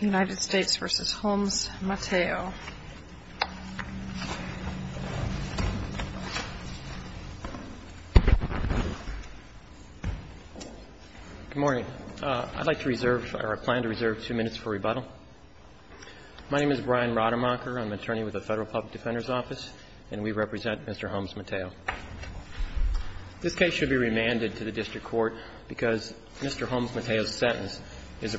United States v. Holmes-Mateo. Good morning. I'd like to reserve, or plan to reserve two minutes for rebuttal. My name is Brian Rademacher. I'm an attorney with the Federal Public Defender's Office, and we represent Mr. Holmes-Mateo. This case should be remanded to the district court because Mr. Holmes-Mateo's The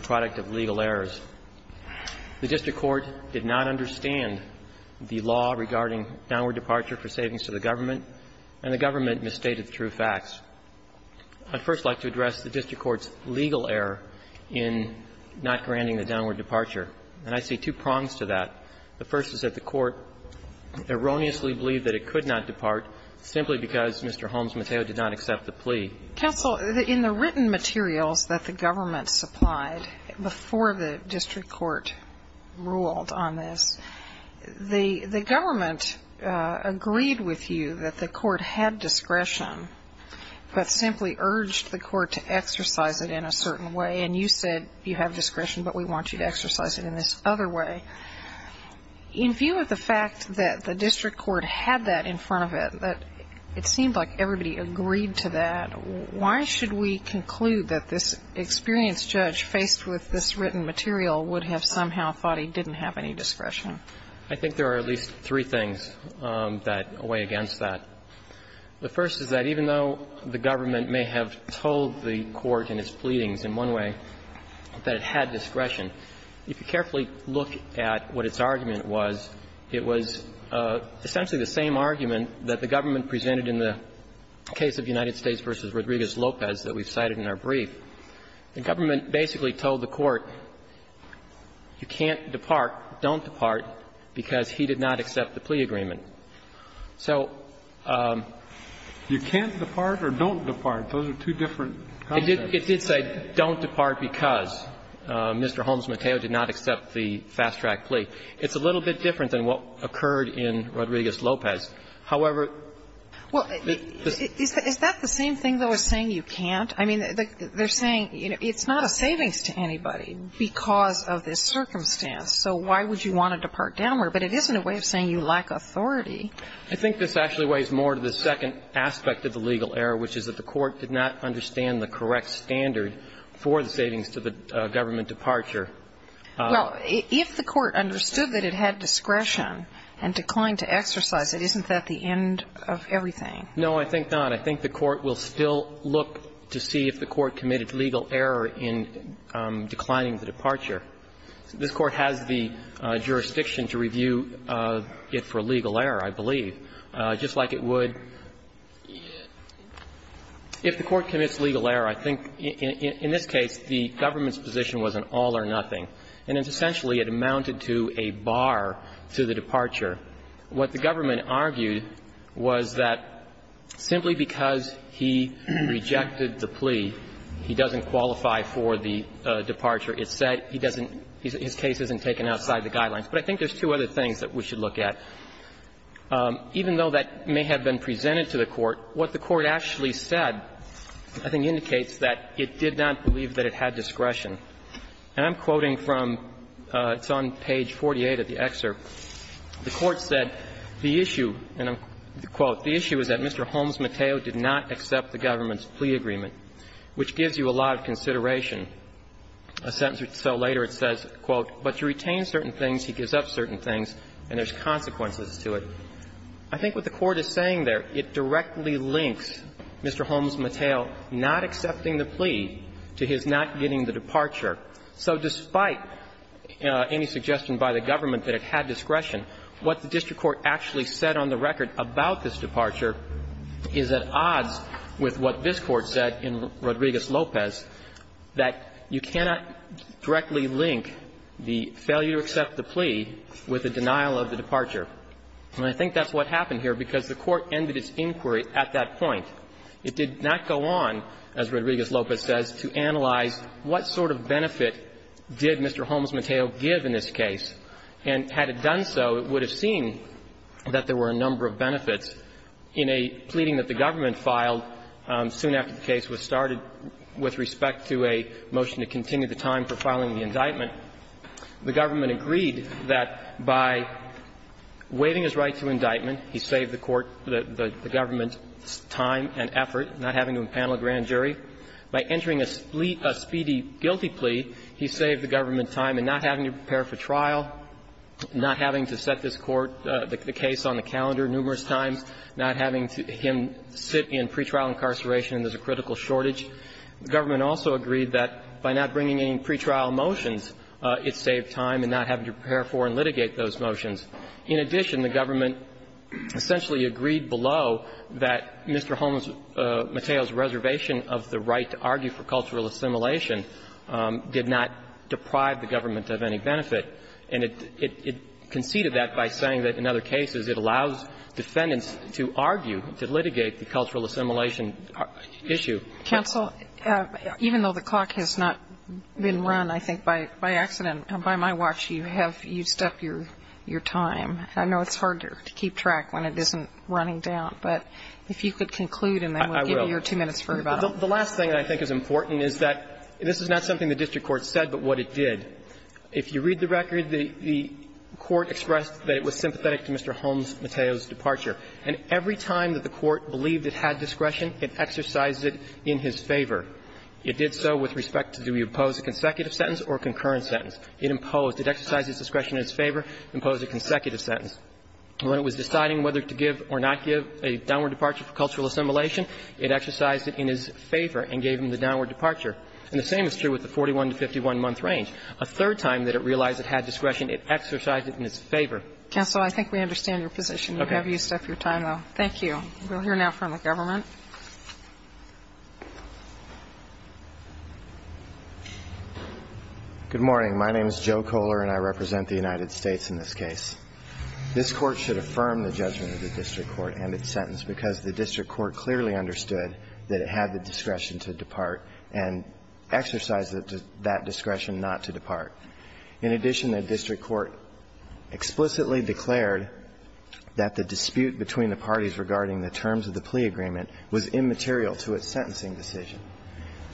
district court did not understand the law regarding downward departure for savings to the government, and the government misstated the true facts. I'd first like to address the district court's legal error in not granting the downward departure. And I see two prongs to that. The first is that the court erroneously believed that it could not depart simply In the written materials that the government supplied before the district court ruled on this, the government agreed with you that the court had discretion, but simply urged the court to exercise it in a certain way. And you said you have discretion, but we want you to exercise it in this other way. In view of the fact that the district court had that in front of it, it seemed like everybody agreed to that, why should we conclude that this experienced judge faced with this written material would have somehow thought he didn't have any discretion? I think there are at least three things that weigh against that. The first is that even though the government may have told the court in its pleadings in one way that it had discretion, if you carefully look at what its argument was, it was essentially the same argument that the government presented in the case of United States v. Rodriguez-Lopez that we've cited in our brief. The government basically told the court you can't depart, don't depart, because he did not accept the plea agreement. So you can't depart or don't depart, those are two different concepts. It did say don't depart because Mr. Holmes Mateo did not accept the fast track plea. It's a little bit different than what occurred in Rodriguez-Lopez. However, the same thing, though, is saying you can't? I mean, they're saying it's not a savings to anybody because of this circumstance, so why would you want to depart downward? But it isn't a way of saying you lack authority. I think this actually weighs more to the second aspect of the legal error, which is that the court did not understand the correct standard for the savings to the government departure. Well, if the court understood that it had discretion and declined to exercise it, isn't that the end of everything? No, I think not. I think the court will still look to see if the court committed legal error in declining the departure. This Court has the jurisdiction to review it for legal error, I believe. Just like it would if the court commits legal error. I think, in this case, the government's position was an all or nothing, and it's essentially it amounted to a bar to the departure. What the government argued was that simply because he rejected the plea, he doesn't qualify for the departure. It said he doesn't his case isn't taken outside the guidelines. But I think there's two other things that we should look at. Even though that may have been presented to the court, what the court actually said, I think, indicates that it did not believe that it had discretion. And I'm quoting from, it's on page 48 of the excerpt, the court said, the issue, and I'll quote, the issue is that Mr. Holmes Mateo did not accept the government's plea agreement, which gives you a lot of consideration. A sentence or so later, it says, quote, but to retain certain things, he gives up certain things, and there's consequences to it. I think what the Court is saying there, it directly links Mr. Holmes Mateo not accepting the plea to his not getting the departure. So despite any suggestion by the government that it had discretion, what the district court actually said on the record about this departure is at odds with what this Court said in Rodriguez-Lopez, that you cannot directly link the failure to accept the plea with the denial of the departure. And I think that's what happened here, because the Court ended its inquiry at that point. It did not go on, as Rodriguez-Lopez says, to analyze what sort of benefit did Mr. Holmes Mateo give in this case. And had it done so, it would have seen that there were a number of benefits. In a pleading that the government filed soon after the case was started with respect to a motion to continue the time for filing the indictment, the government agreed that by waiving his right to indictment, he saved the court the government's time and effort, not having to impanel a grand jury. By entering a speedy guilty plea, he saved the government time in not having to prepare for trial, not having to set this court, the case on the calendar numerous times, not having him sit in pretrial incarceration, and there's a critical shortage. The government also agreed that by not bringing any pretrial motions, it saved time in not having to prepare for and litigate those motions. In addition, the government essentially agreed below that Mr. Holmes Mateo's reservation of the right to argue for cultural assimilation did not deprive the government of any benefit. And it conceded that by saying that in other cases it allows defendants to argue, to litigate the cultural assimilation issue. Counsel, even though the clock has not been run, I think by accident, by my watch you have used up your time. I know it's harder to keep track when it isn't running down, but if you could conclude and then we'll give you your two minutes for rebuttal. The last thing that I think is important is that this is not something the district court said, but what it did. If you read the record, the court expressed that it was sympathetic to Mr. Holmes Mateo's departure. And every time that the court believed it had discretion, it exercised it in his favor. It did so with respect to do we oppose a consecutive sentence or a concurrent sentence. It imposed. It exercised its discretion in its favor, imposed a consecutive sentence. When it was deciding whether to give or not give a downward departure for cultural assimilation, it exercised it in his favor and gave him the downward departure. And the same is true with the 41-to-51-month range. A third time that it realized it had discretion, it exercised it in its favor. Counsel, I think we understand your position. Can you have yourself your time, though? Thank you. We'll hear now from the government. Good morning. My name is Joe Kohler, and I represent the United States in this case. This Court should affirm the judgment of the district court and its sentence because the district court clearly understood that it had the discretion to depart and exercised that discretion not to depart. In addition, the district court explicitly declared that the dispute between the parties regarding the terms of the plea agreement was immaterial to its sentencing decision.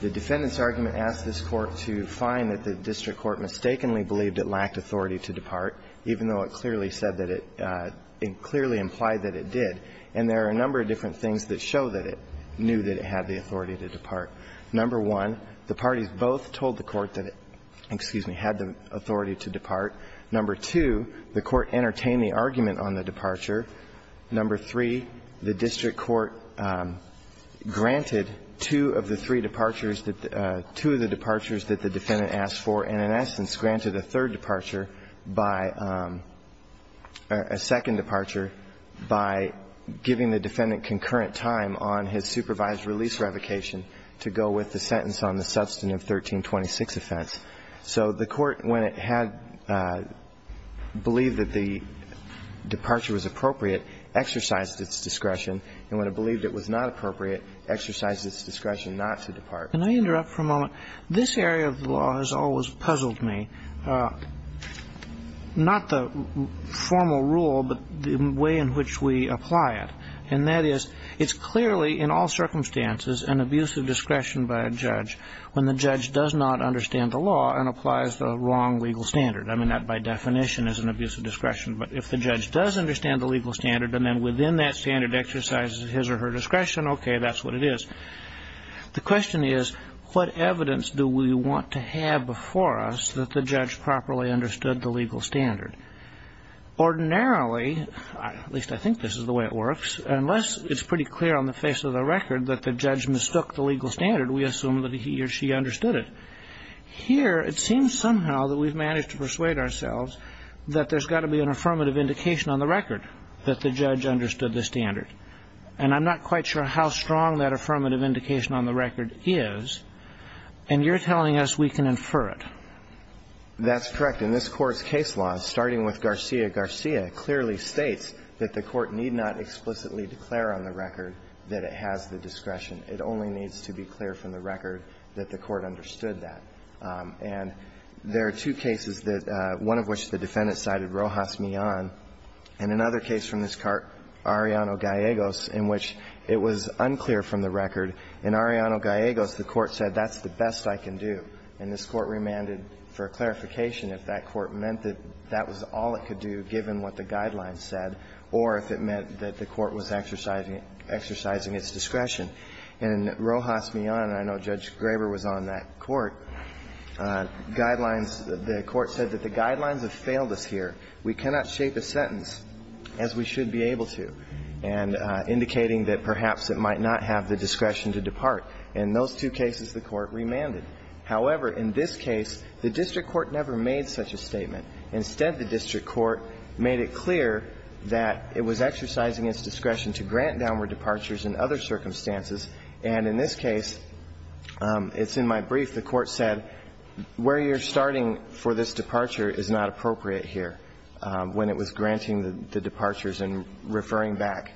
The defendant's argument asked this Court to find that the district court mistakenly believed it lacked authority to depart, even though it clearly said that it clearly implied that it did. And there are a number of different things that show that it knew that it had the authority to depart. Number one, the parties both told the court that it, excuse me, had the authority to depart. Number two, the court entertained the argument on the departure. Number three, the district court granted two of the three departures that the – two of the departures that the defendant asked for and, in essence, granted a third departure by – a second departure by giving the defendant concurrent time on his request to go with the sentence on the substantive 1326 offense. So the court, when it had – believed that the departure was appropriate, exercised its discretion, and when it believed it was not appropriate, exercised its discretion not to depart. Can I interrupt for a moment? This area of the law has always puzzled me, not the formal rule, but the way in which we apply it. And that is, it's clearly, in all circumstances, an abuse of discretion by a judge when the judge does not understand the law and applies the wrong legal standard. I mean, that, by definition, is an abuse of discretion. But if the judge does understand the legal standard and then, within that standard, exercises his or her discretion, okay, that's what it is. The question is, what evidence do we want to have before us that the judge properly understood the legal standard? Ordinarily – at least I think this is the way it works – unless it's pretty clear on the face of the record that the judge mistook the legal standard, we assume that he or she understood it. Here, it seems somehow that we've managed to persuade ourselves that there's got to be an affirmative indication on the record that the judge understood the standard. And I'm not quite sure how strong that affirmative indication on the record is. And you're telling us we can infer it. That's correct. And this Court's case law, starting with Garcia-Garcia, clearly states that the Court need not explicitly declare on the record that it has the discretion. It only needs to be clear from the record that the Court understood that. And there are two cases that – one of which the defendant cited Rojas Millan, and another case from this court, Arellano-Gallegos, in which it was unclear from the record. In Arellano-Gallegos, the Court said, that's the best I can do. And this Court remanded for clarification if that court meant that that was all it could do, given what the guidelines said, or if it meant that the court was exercising its discretion. In Rojas Millan, and I know Judge Graber was on that court, guidelines – the Court said that the guidelines have failed us here. We cannot shape a sentence as we should be able to, and indicating that perhaps it might not have the discretion to depart. In those two cases, the Court remanded. However, in this case, the district court never made such a statement. Instead, the district court made it clear that it was exercising its discretion to grant downward departures in other circumstances. And in this case, it's in my brief, the Court said, where you're starting for this departure is not appropriate here, when it was granting the departures and referring back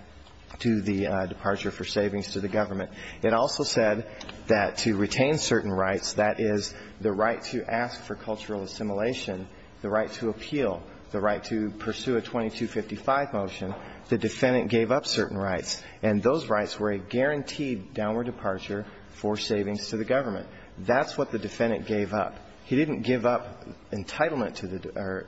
to the departure for savings to the government. It also said that to retain certain rights, that is, the right to ask for cultural assimilation, the right to appeal, the right to pursue a 2255 motion, the defendant gave up certain rights, and those rights were a guaranteed downward departure for savings to the government. That's what the defendant gave up. He didn't give up entitlement to the – or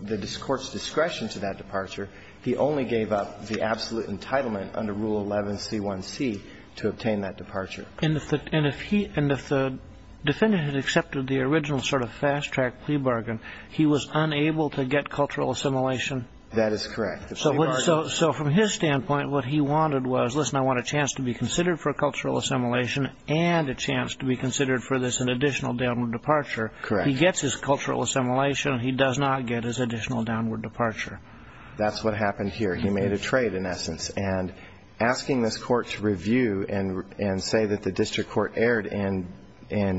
the court's discretion to that departure. He only gave up the absolute entitlement under Rule 11C1C to obtain that departure. And if the defendant had accepted the original sort of fast-track plea bargain, he was unable to get cultural assimilation? That is correct. So from his standpoint, what he wanted was, listen, I want a chance to be considered for cultural assimilation and a chance to be considered for this additional downward departure. Correct. He gets his cultural assimilation. He does not get his additional downward departure. That's what happened here. He made a trade, in essence. And asking this Court to review and say that the district court erred in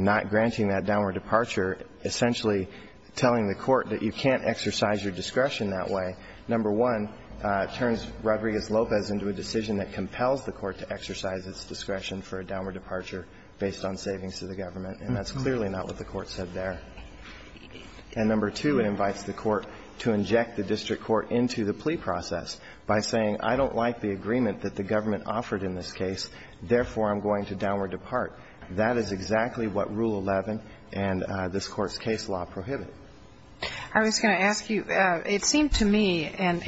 not granting that downward departure, essentially telling the Court that you can't exercise your discretion that way, number one, turns Rodriguez-Lopez into a decision that compels the Court to exercise its discretion for a downward departure based on savings to the government, and that's clearly not what the Court said there. And number two, it invites the Court to inject the district court into the plea process by saying, I don't like the agreement that the government offered in this case, therefore, I'm going to downward depart. That is exactly what Rule 11 and this Court's case law prohibit. I was going to ask you, it seemed to me, and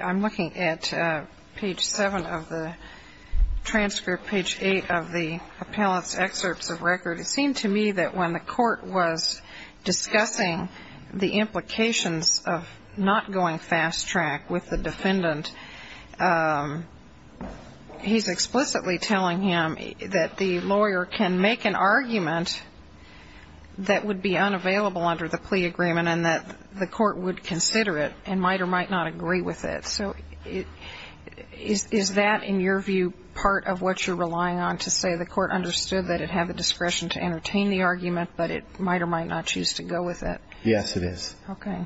I'm looking at page 7 of the transcript, page 8 of the appellant's excerpts of record, it seemed to me that when the Court was discussing the implications of not going fast-track with the defendant, he's explicitly telling him that the lawyer can make an argument that would be unavailable under the plea agreement and that the Court would consider it and might or might not agree with it. So is that, in your view, part of what you're relying on to say the Court understood that it had the discretion to entertain the argument, but it might or might not choose to go with it? Yes, it is. Okay.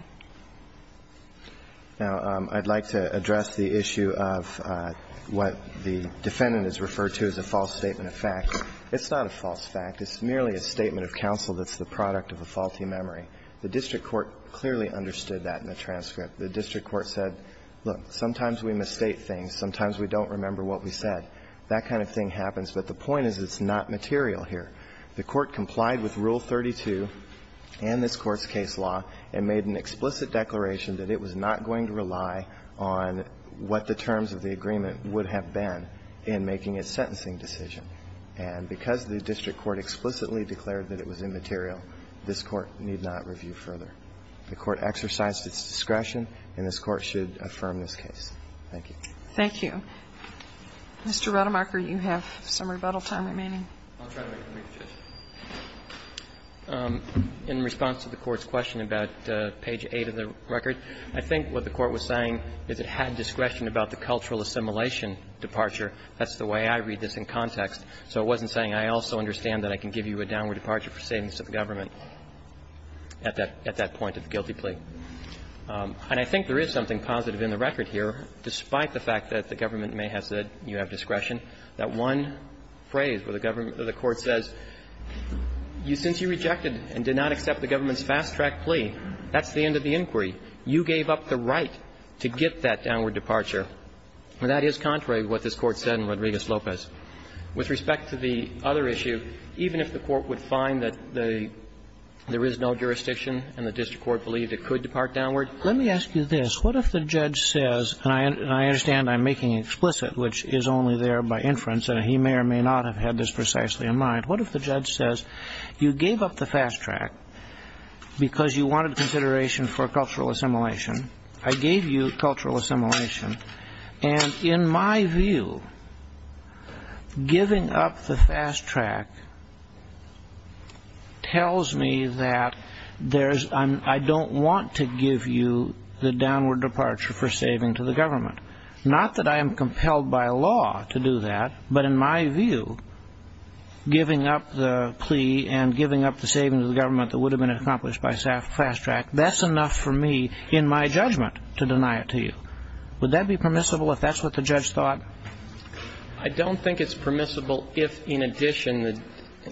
Now, I'd like to address the issue of what the defendant has referred to as a false statement of fact. It's not a false fact. It's merely a statement of counsel that's the product of a faulty memory. The district court clearly understood that in the transcript. The district court said, look, sometimes we misstate things, sometimes we don't remember what we said. That kind of thing happens, but the point is it's not material here. The Court complied with Rule 32 and this Court's case law and made an explicit declaration that it was not going to rely on what the terms of the agreement would have been in making a sentencing decision. And because the district court explicitly declared that it was immaterial, this Court need not review further. The Court exercised its discretion, and this Court should affirm this case. Thank you. Thank you. Mr. Rademacher, you have some rebuttal time remaining. In response to the Court's question about page 8 of the record, I think what the Court was saying is it had discretion about the cultural assimilation departure. That's the way I read this in context. So it wasn't saying, I also understand that I can give you a downward departure for savings to the government at that point of the guilty plea. And I think there is something positive in the record here, despite the fact that the government may have said you have discretion, that one phrase where the government or the Court says, since you rejected and did not accept the government's fast-track plea, that's the end of the inquiry. You gave up the right to get that downward departure. That is contrary to what this Court said in Rodriguez-Lopez. With respect to the other issue, even if the Court would find that there is no jurisdiction and the district court believed it could depart downward. Let me ask you this. What if the judge says, and I understand I'm making explicit, which is only there by inference, and he may or may not have had this precisely in mind. What if the judge says, you gave up the fast-track because you wanted consideration for cultural assimilation. I gave you cultural assimilation. And in my view, giving up the fast-track tells me that I don't want to give you the downward departure for saving to the government. Not that I am compelled by law to do that, but in my view, giving up the plea and giving up the saving to the government that would have been accomplished by fast-track, that's enough for me, in my judgment, to deny it to you. Would that be permissible if that's what the judge thought? I don't think it's permissible if, in addition,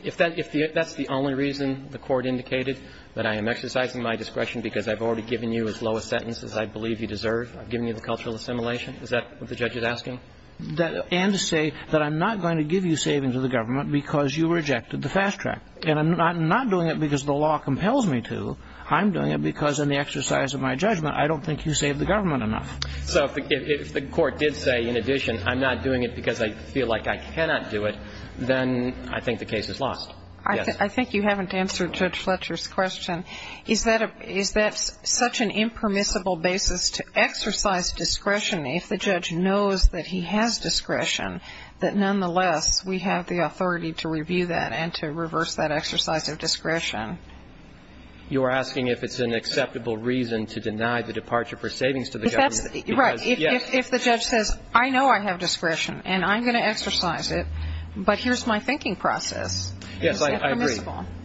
if that's the only reason the Court indicated, that I am exercising my discretion because I've already given you as low a sentence as I believe you deserve, I've given you the cultural assimilation. Is that what the judge is asking? And to say that I'm not going to give you savings to the government because you rejected the fast-track. And I'm not doing it because the law compels me to. I'm doing it because in the exercise of my judgment, I don't think you saved the government enough. So if the Court did say, in addition, I'm not doing it because I feel like I cannot do it, then I think the case is lost. Yes. I think you haven't answered Judge Fletcher's question. Is that such an impermissible basis to exercise discretion if the judge knows that he has discretion, that nonetheless, we have the authority to review that and to reverse that exercise of discretion? You're asking if it's an acceptable reason to deny the departure for savings to the government. Right. If the judge says, I know I have discretion, and I'm going to exercise it, but here's my thinking process. Yes, I agree.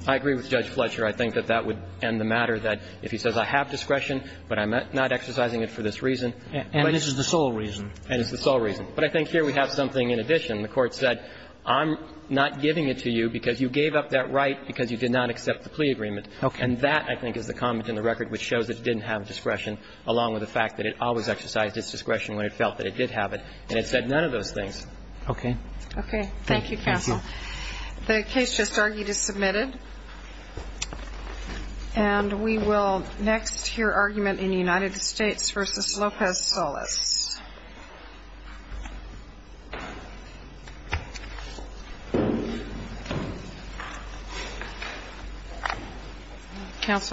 I agree with Judge Fletcher. I think that that would end the matter that if he says, I have discretion, but I'm not exercising it for this reason. And this is the sole reason. And it's the sole reason. But I think here we have something in addition. The Court said, I'm not giving it to you because you gave up that right because you did not accept the plea agreement. And that, I think, is the comment in the record which shows it didn't have discretion, along with the fact that it always exercised its discretion when it felt that it did have it, and it said none of those things. Okay. Okay. Thank you, counsel. The case just argued is submitted. And we will next hear argument in the United States versus Lopez Solis. Counsel.